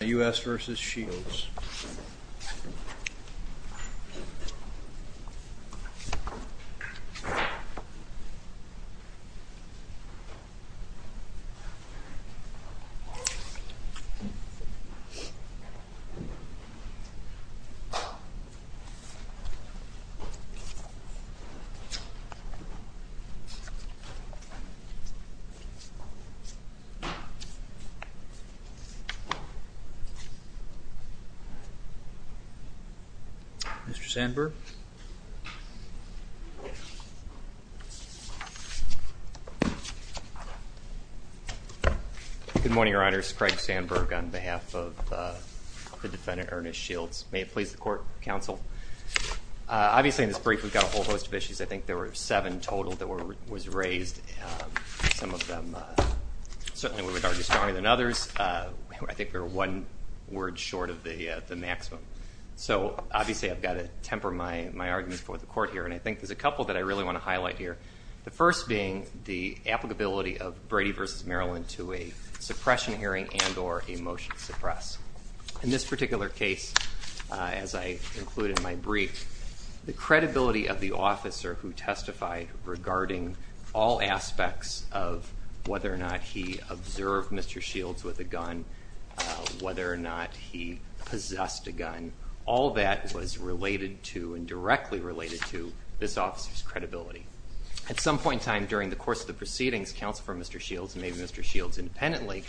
U.S. v. Shields Mr. Sandberg Good morning, Your Honors, Craig Sandberg on behalf of the defendant, Ernest Shields. May it please the court, counsel. Obviously, in this brief, we've got a whole host of issues. I think there were seven total that was raised, some of them certainly were regarded as stronger than others. I think there were one word short of the maximum. So obviously, I've got to temper my argument for the court here, and I think there's a couple that I really want to highlight here. The first being the applicability of Brady v. Maryland to a suppression hearing and or a motion to suppress. In this particular case, as I include in my brief, the credibility of the officer who had the gun, whether or not he possessed a gun, all that was related to and directly related to this officer's credibility. At some point in time during the course of the proceedings, Counsel for Mr. Shields and maybe Mr. Shields independently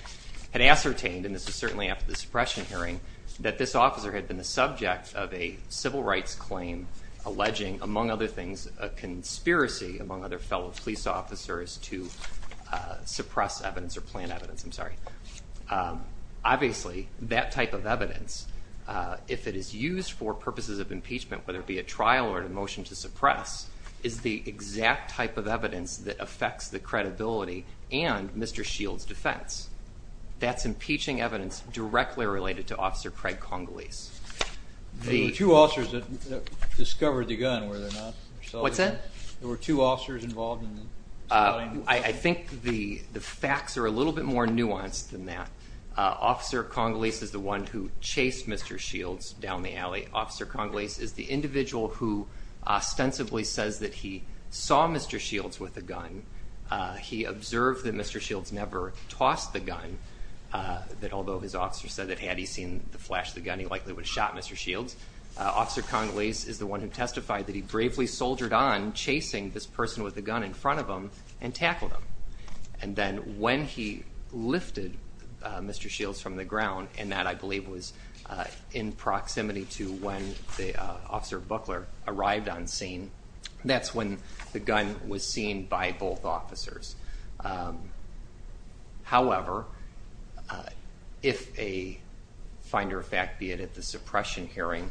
had ascertained, and this was certainly after the suppression hearing, that this officer had been the subject of a civil rights claim alleging, among other things, a conspiracy among other fellow police officers to suppress evidence or plant evidence. Obviously, that type of evidence, if it is used for purposes of impeachment, whether it be a trial or a motion to suppress, is the exact type of evidence that affects the credibility and Mr. Shields' defense. That's impeaching evidence directly related to Officer Craig Congolese. There were two officers that discovered the gun, were there not? What's that? There were two officers involved in the spotting? I think the facts are a little bit more nuanced than that. Officer Congolese is the one who chased Mr. Shields down the alley. Officer Congolese is the individual who ostensibly says that he saw Mr. Shields with a gun. He observed that Mr. Shields never tossed the gun, that although his officer said that had he seen the flash of the gun, he likely would have shot Mr. Shields. Officer Congolese is the one who testified that he bravely soldiered on chasing this and then when he lifted Mr. Shields from the ground, and that I believe was in proximity to when Officer Buckler arrived on scene, that's when the gun was seen by both officers. However, if a finder of fact, be it at the suppression hearing,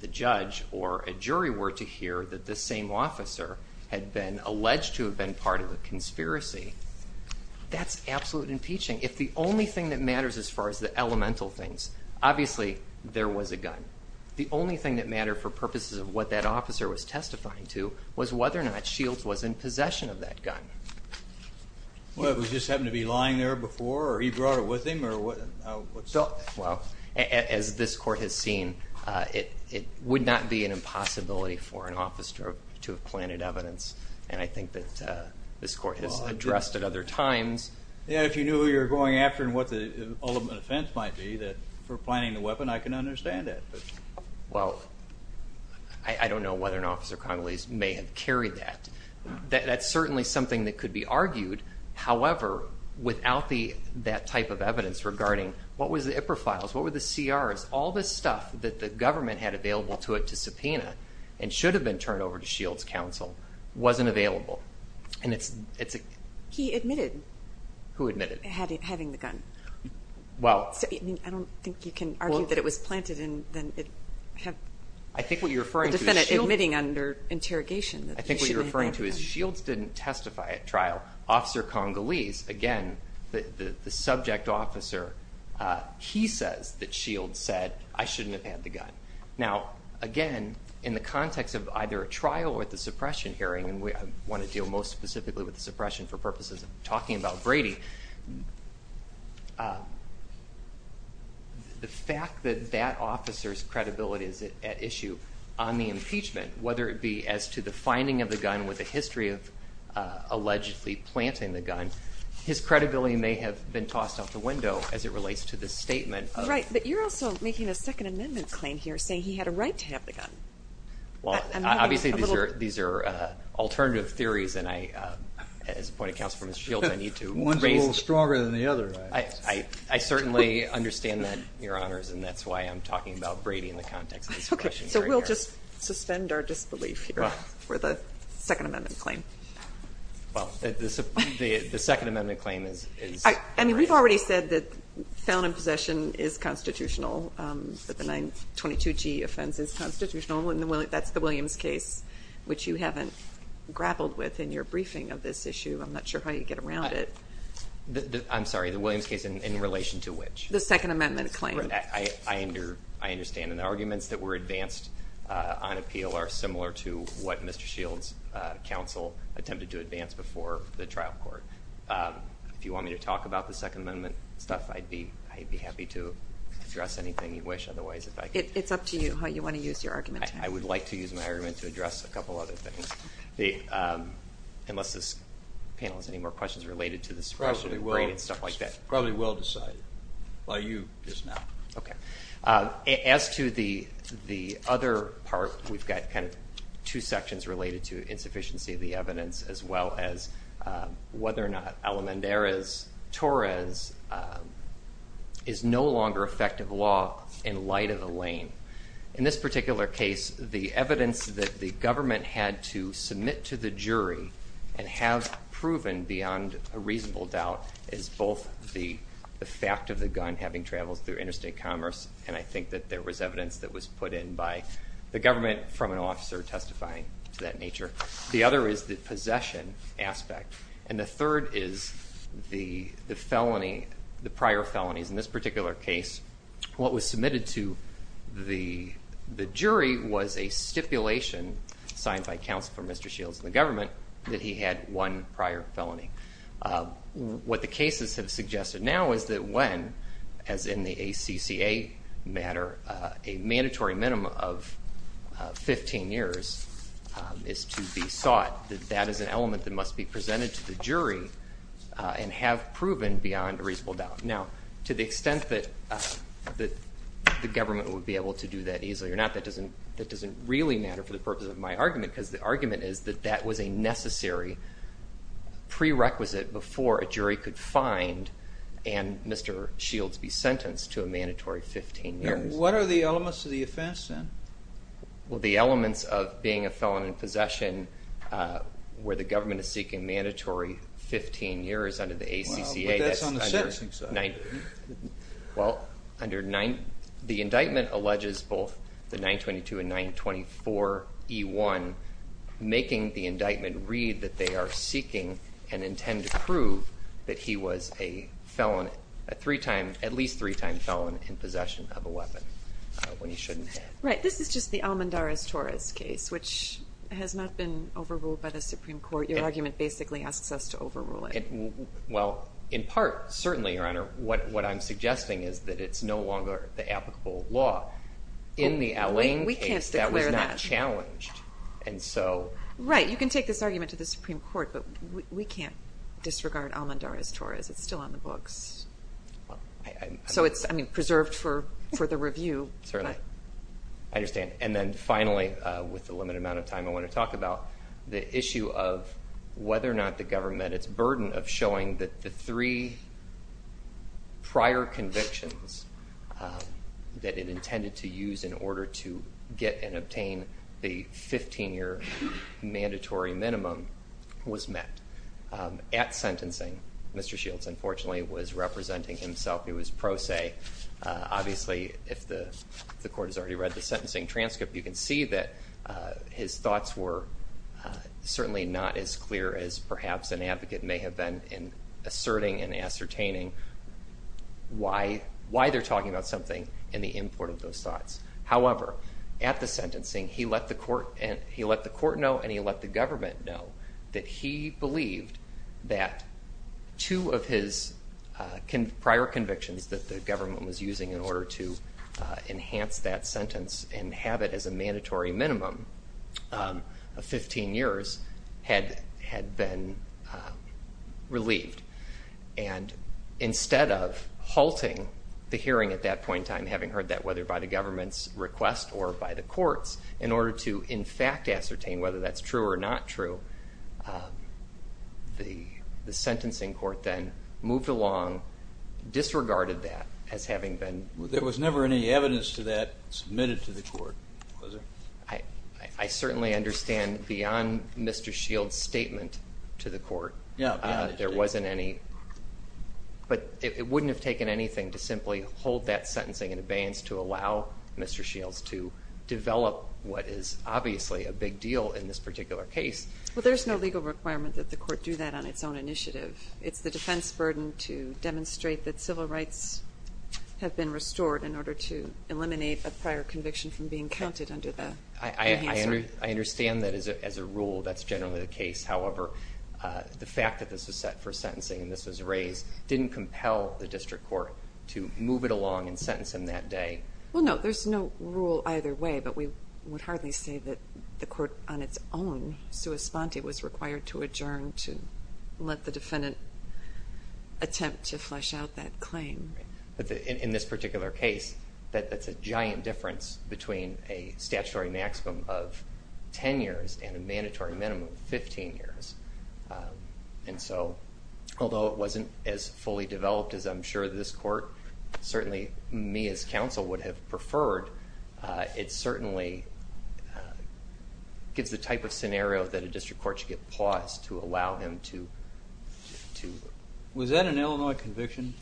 the judge or a jury were to hear that this same officer had been alleged to have been part of a conspiracy, that's absolute impeaching. If the only thing that matters as far as the elemental things, obviously there was a gun. The only thing that mattered for purposes of what that officer was testifying to was whether or not Shields was in possession of that gun. Well, it was just happening to be lying there before or he brought it with him or what? Well, as this court has seen, it would not be an impossibility for an officer to have planted evidence. And I think that this court has addressed at other times. Yeah, if you knew who you were going after and what the ultimate offense might be for planting the weapon, I can understand that. Well, I don't know whether an officer Congolese may have carried that. That's certainly something that could be argued. However, without that type of evidence regarding what was the IPRA files, what were the CRs, all this stuff that the government had available to it to subpoena and should have been turned over to Shields' counsel wasn't available. And it's a... He admitted... Who admitted? ...having the gun. Well... I don't think you can argue that it was planted and then it had... I think what you're referring to is Shields... ...the defendant admitting under interrogation that he should have planted the gun. What you're referring to is Shields didn't testify at trial. Officer Congolese, again, the subject officer, he says that Shields said, I shouldn't have had the gun. Now, again, in the context of either a trial or the suppression hearing, and I want to deal most specifically with the suppression for purposes of talking about Brady, the fact that that officer's credibility is at issue on the impeachment, whether it be as to the finding of the gun with the history of allegedly planting the gun, his credibility may have been tossed out the window as it relates to the statement of... Right. But you're also making a Second Amendment claim here, saying he had a right to have the gun. Obviously, these are alternative theories, and I, as a point of counsel for Mr. Shields, I need to raise... One's a little stronger than the other. I certainly understand that, Your Honors, and that's why I'm talking about Brady in the context of this question. So we'll just suspend our disbelief here for the Second Amendment claim. Well, the Second Amendment claim is... I mean, we've already said that found in possession is constitutional, that the 922G offense is constitutional, and that's the Williams case, which you haven't grappled with in your briefing of this issue. I'm not sure how you get around it. I'm sorry, the Williams case in relation to which? The Second Amendment claim. I understand, and the arguments that were advanced on appeal are similar to what Mr. Shields, counsel, attempted to advance before the trial court. If you want me to talk about the Second Amendment stuff, I'd be happy to address anything you wish. Otherwise, if I could... It's up to you how you want to use your argument. I would like to use my argument to address a couple other things, unless this panel has any more questions related to this question. It's probably well decided by you just now. Okay. As to the other part, we've got kind of two sections related to insufficiency of the evidence, as well as whether or not Alamanderes-Torres is no longer effective law in light of the lane. In this particular case, the evidence that the government had to submit to the jury and have proven beyond a reasonable doubt is both the fact of the gun having traveled through interstate commerce, and I think that there was evidence that was put in by the government from an officer testifying to that nature. The other is the possession aspect, and the third is the felony, the prior felonies. In this particular case, what was submitted to the jury was a stipulation signed by counsel for Mr. Shields from the government that he had one prior felony. What the cases have suggested now is that when, as in the ACCA matter, a mandatory minimum of 15 years is to be sought, that that is an element that must be presented to the jury and have proven beyond a reasonable doubt. Now, to the extent that the government would be able to do that easily or not, that doesn't really matter for the purpose of my argument, because the argument is that that was a necessary prerequisite before a jury could find and Mr. Shields be sentenced to a mandatory 15 years. What are the elements of the offense, then? Well, the elements of being a felon in possession where the government is seeking mandatory 15 years under the ACCA. Well, but that's on the sentencing side. Well, under the indictment alleges both the 922 and 924E1, making the indictment read that they are seeking and intend to prove that he was a felon, a three-time, at least three-time felon in possession of a weapon when he shouldn't have. Right. This is just the Almendarez-Torres case, which has not been overruled by the Supreme Court. Your argument basically asks us to overrule it. Well, in part, certainly, Your Honor, what I'm suggesting is that it's no longer the applicable law. In the Allain case, that was not challenged. Right. You can take this argument to the Supreme Court, but we can't disregard Almendarez-Torres. It's still on the books. So it's preserved for further review. Certainly. I understand. And then finally, with the limited amount of time I want to talk about, the issue of whether or not the government, its burden of showing that the three prior convictions that it intended to use in order to get and obtain the 15-year mandatory minimum was met at sentencing. Mr. Shields, unfortunately, was representing himself. He was pro se. Obviously, if the court has already read the sentencing transcript, you can see that his thoughts were certainly not as clear as perhaps an advocate may have been in asserting and ascertaining why they're talking about something and the import of those thoughts. However, at the sentencing, he let the court know and he let the government know that he believed that two of his prior convictions that the government was using in order to enhance that sentence and have it as a mandatory minimum of 15 years had been relieved. And instead of halting the hearing at that point in time, having heard that whether by the government's request or by the courts, in order to, in fact, ascertain whether that's true or not true, the sentencing court then moved along, disregarded that as having been... There was never any evidence to that submitted to the court, was there? I certainly understand beyond Mr. Shields' statement to the court, there wasn't any. But it wouldn't have taken anything to simply hold that sentencing in abeyance to allow Mr. Shields to develop what is obviously a big deal in this particular case Well, there's no legal requirement that the court do that on its own initiative. It's the defense burden to demonstrate that civil rights have been restored in order to eliminate a prior conviction from being counted under the hearing. I understand that as a rule, that's generally the case. However, the fact that this was set for sentencing and this was raised didn't compel the district court to move it along and sentence him that day. Well, no, there's no rule either way, but we would hardly say that the court on its own, sua sponte, was required to adjourn to let the defendant attempt to flesh out that claim. In this particular case, that's a giant difference between a statutory maximum of 10 years and a mandatory minimum of 15 years. And so although it wasn't as fully developed as I'm sure this court, certainly me as counsel would have preferred, it certainly gives the type of scenario that a district court should get paused to allow him to... Was that an Illinois conviction?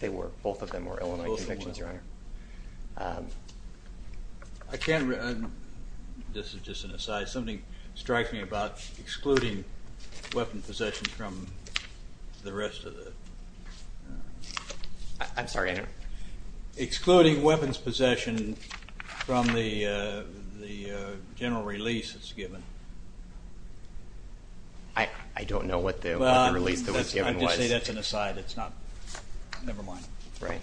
They were. Both of them were Illinois convictions, Your Honor. I can't remember. This is just an aside. Something strikes me about excluding weapons possession from the rest of the... I'm sorry, I don't know. Excluding weapons possession from the general release that's given. I don't know what the release that was given was. I'm just saying that's an aside. It's not...never mind. Right.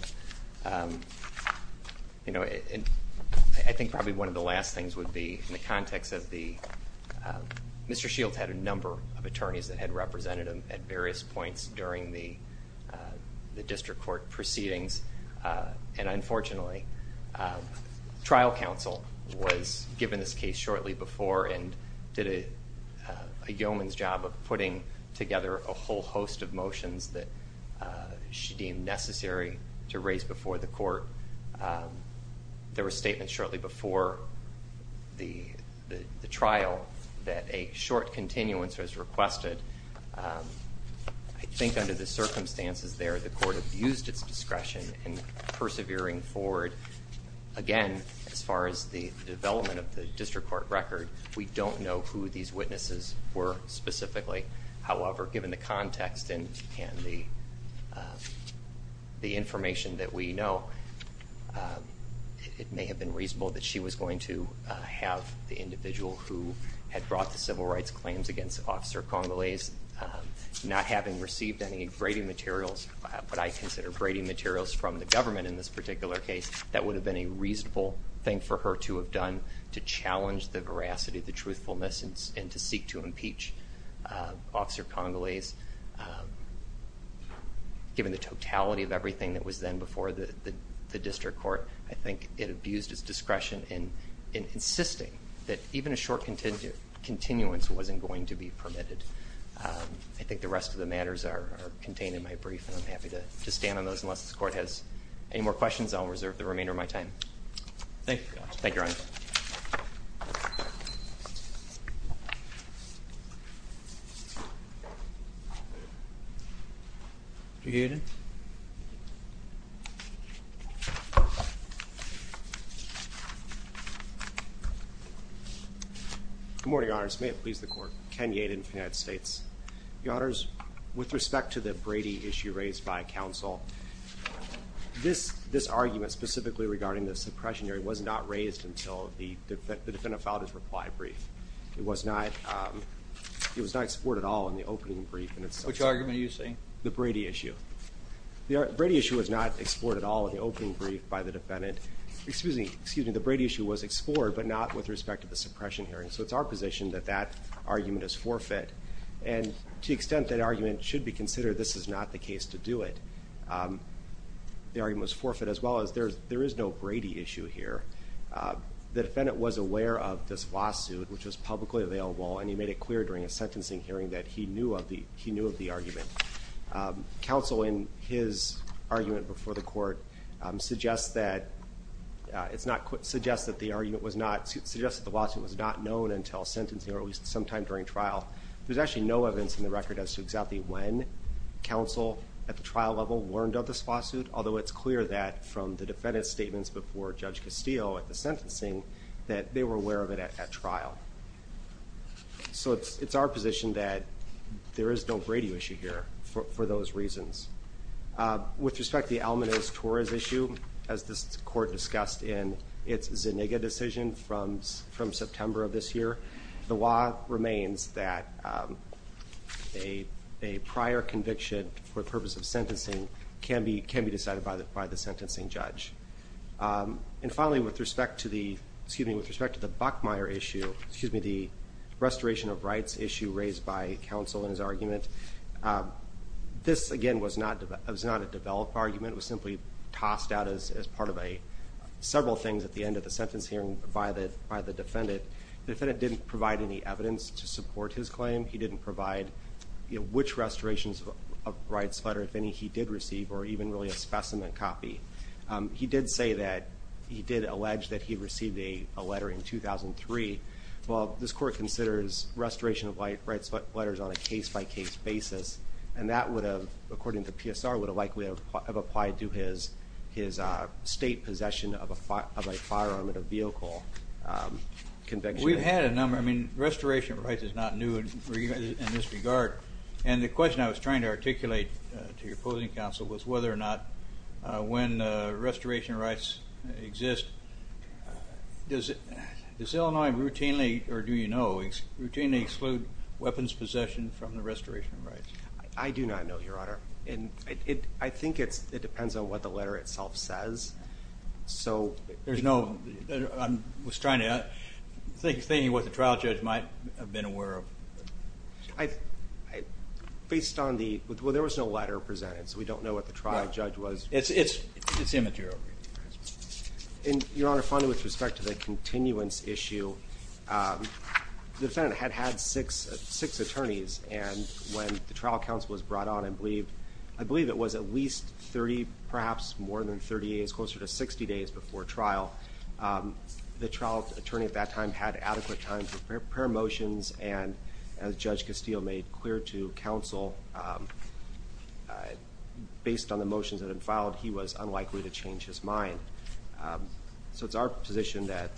I think probably one of the last things would be in the context of the... Mr. Shields had a number of attorneys that had represented him at various points during the district court proceedings, and unfortunately trial counsel was given this case shortly before and did a yeoman's job of putting together a whole host of motions that she deemed necessary to raise before the court. There were statements shortly before the trial that a short continuance was requested. I think under the circumstances there the court abused its discretion in persevering forward. Again, as far as the development of the district court record, we don't know who these witnesses were specifically. However, given the context and the information that we know, it may have been reasonable that she was going to have the individual who had brought the civil rights claims against Officer Congolese. Not having received any Brady materials, what I consider Brady materials from the government in this particular case, that would have been a reasonable thing for her to have done to challenge the veracity, the truthfulness, and to seek to impeach Officer Congolese. Given the totality of everything that was then before the district court, I think it abused its discretion in insisting that even a short continuance wasn't going to be permitted. I think the rest of the matters are contained in my brief, and I'm happy to stand on those unless the court has any more questions. I'll reserve the remainder of my time. Thank you, Your Honor. Thank you, Your Honor. Mr. Yadin. Good morning, Your Honors. May it please the court. Ken Yadin, United States. Your Honors, with respect to the Brady issue raised by counsel, this argument specifically regarding the suppression was not raised until the defendant filed his reply brief. It was not explored at all in the opening brief. Which argument are you saying? The Brady issue. The Brady issue was not explored at all in the opening brief by the defendant. Excuse me, the Brady issue was explored, but not with respect to the suppression hearing. So it's our position that that argument is forfeit, and to the extent that argument should be considered, this is not the case to do it. The argument was forfeit as well as there is no Brady issue here. The defendant was aware of this lawsuit, which was publicly available, and he made it clear during a sentencing hearing that he knew of the argument. Counsel, in his argument before the court, suggests that the lawsuit was not known until sentencing or at least sometime during trial. There's actually no evidence in the record as to exactly when counsel, at the trial level, learned of this lawsuit, although it's clear that from the defendant's statements before Judge Castillo at the sentencing, that they were aware of it at trial. So it's our position that there is no Brady issue here for those reasons. With respect to the Almanaz-Torres issue, as this court discussed in its Zuniga decision from September of this year, the law remains that a prior conviction for the purpose of sentencing can be decided by the sentencing judge. And finally, with respect to the Buckmeyer issue, the restoration of rights issue raised by counsel in his argument, this, again, was not a developed argument. It was simply tossed out as part of several things at the end of the sentence hearing by the defendant. The defendant didn't provide any evidence to support his claim. He didn't provide which restorations of rights letter, if any, he did receive, or even really a specimen copy. He did say that he did allege that he received a letter in 2003. Well, this court considers restoration of rights letters on a case-by-case basis, and that would have, according to PSR, would have likely have applied to his state possession of a firearm in a vehicle conviction. We've had a number. I mean, restoration of rights is not new in this regard. And the question I was trying to articulate to your opposing counsel was whether or not when restoration of rights exists, does Illinois routinely, or do you know, routinely exclude weapons possession from the restoration of rights? I do not know, Your Honor. I think it depends on what the letter itself says. I was trying to think of what the trial judge might have been aware of. Well, there was no letter presented, so we don't know what the trial judge was. It's immaterial. Your Honor, finally, with respect to the continuance issue, the defendant had had six attorneys, and when the trial counsel was brought on, I believe it was at least 30, perhaps more than 30 days, closer to 60 days before trial, the trial attorney at that time had adequate time to prepare motions, and as Judge Castillo made clear to counsel, based on the motions that had been filed, he was unlikely to change his mind. So it's our position that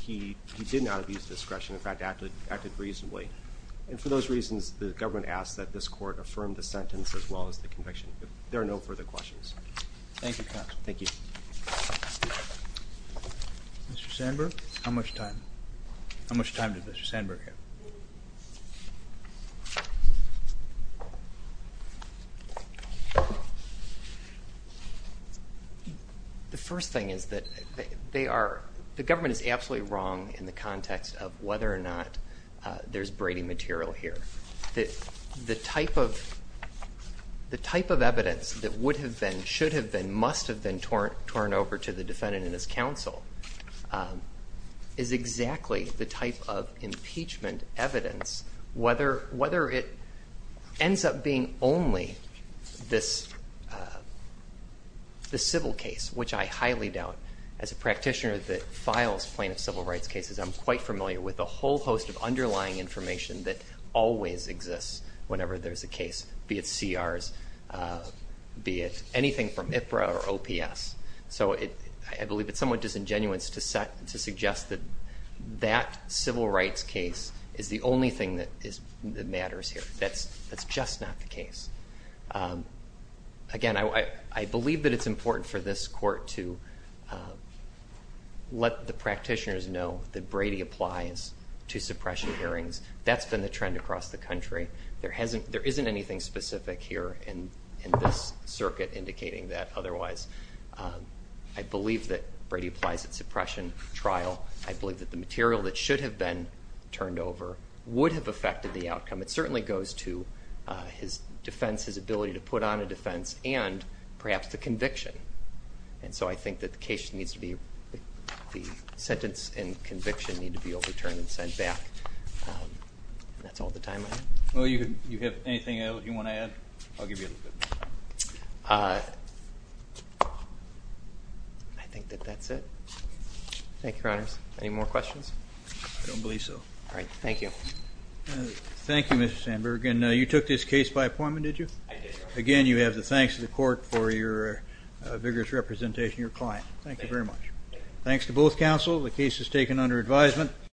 he did not abuse discretion, in fact, acted reasonably. And for those reasons, the government asks that this court affirm the sentence as well as the conviction. There are no further questions. Thank you, counsel. Thank you. Mr. Sandberg, how much time? How much time does Mr. Sandberg have? The first thing is that they are the government is absolutely wrong in the context of whether or not there's Brady material here. The type of evidence that would have been, should have been, must have been torn over to the defendant and his counsel is exactly the type of impeachment evidence, whether it ends up being only this civil case, which I highly doubt. As a practitioner that files plaintiff civil rights cases, I'm quite familiar with a whole host of underlying information that always exists whenever there's a case, be it CRs, be it anything from IPRA or OPS. So I believe it's somewhat disingenuous to suggest that that civil rights case is the only thing that matters here. That's just not the case. Again, I believe that it's important for this court to let the practitioners know that Brady applies to suppression hearings. That's been the trend across the country. There isn't anything specific here in this circuit indicating that otherwise. I believe that Brady applies at suppression trial. I believe that the material that should have been turned over would have affected the outcome. It certainly goes to his defense, his ability to put on a defense, and perhaps the conviction. And so I think that the case needs to be, the sentence and conviction need to be overturned and sent back. And that's all the time I have. Well, you have anything else you want to add? I'll give you a little bit more time. I think that that's it. Thank you, Your Honors. Any more questions? I don't believe so. All right. Thank you. Thank you, Mr. Sandberg. And you took this case by appointment, did you? I did. Again, you have the thanks of the court for your vigorous representation of your client. Thank you very much. Thanks to both counsel. The case is taken under advisement.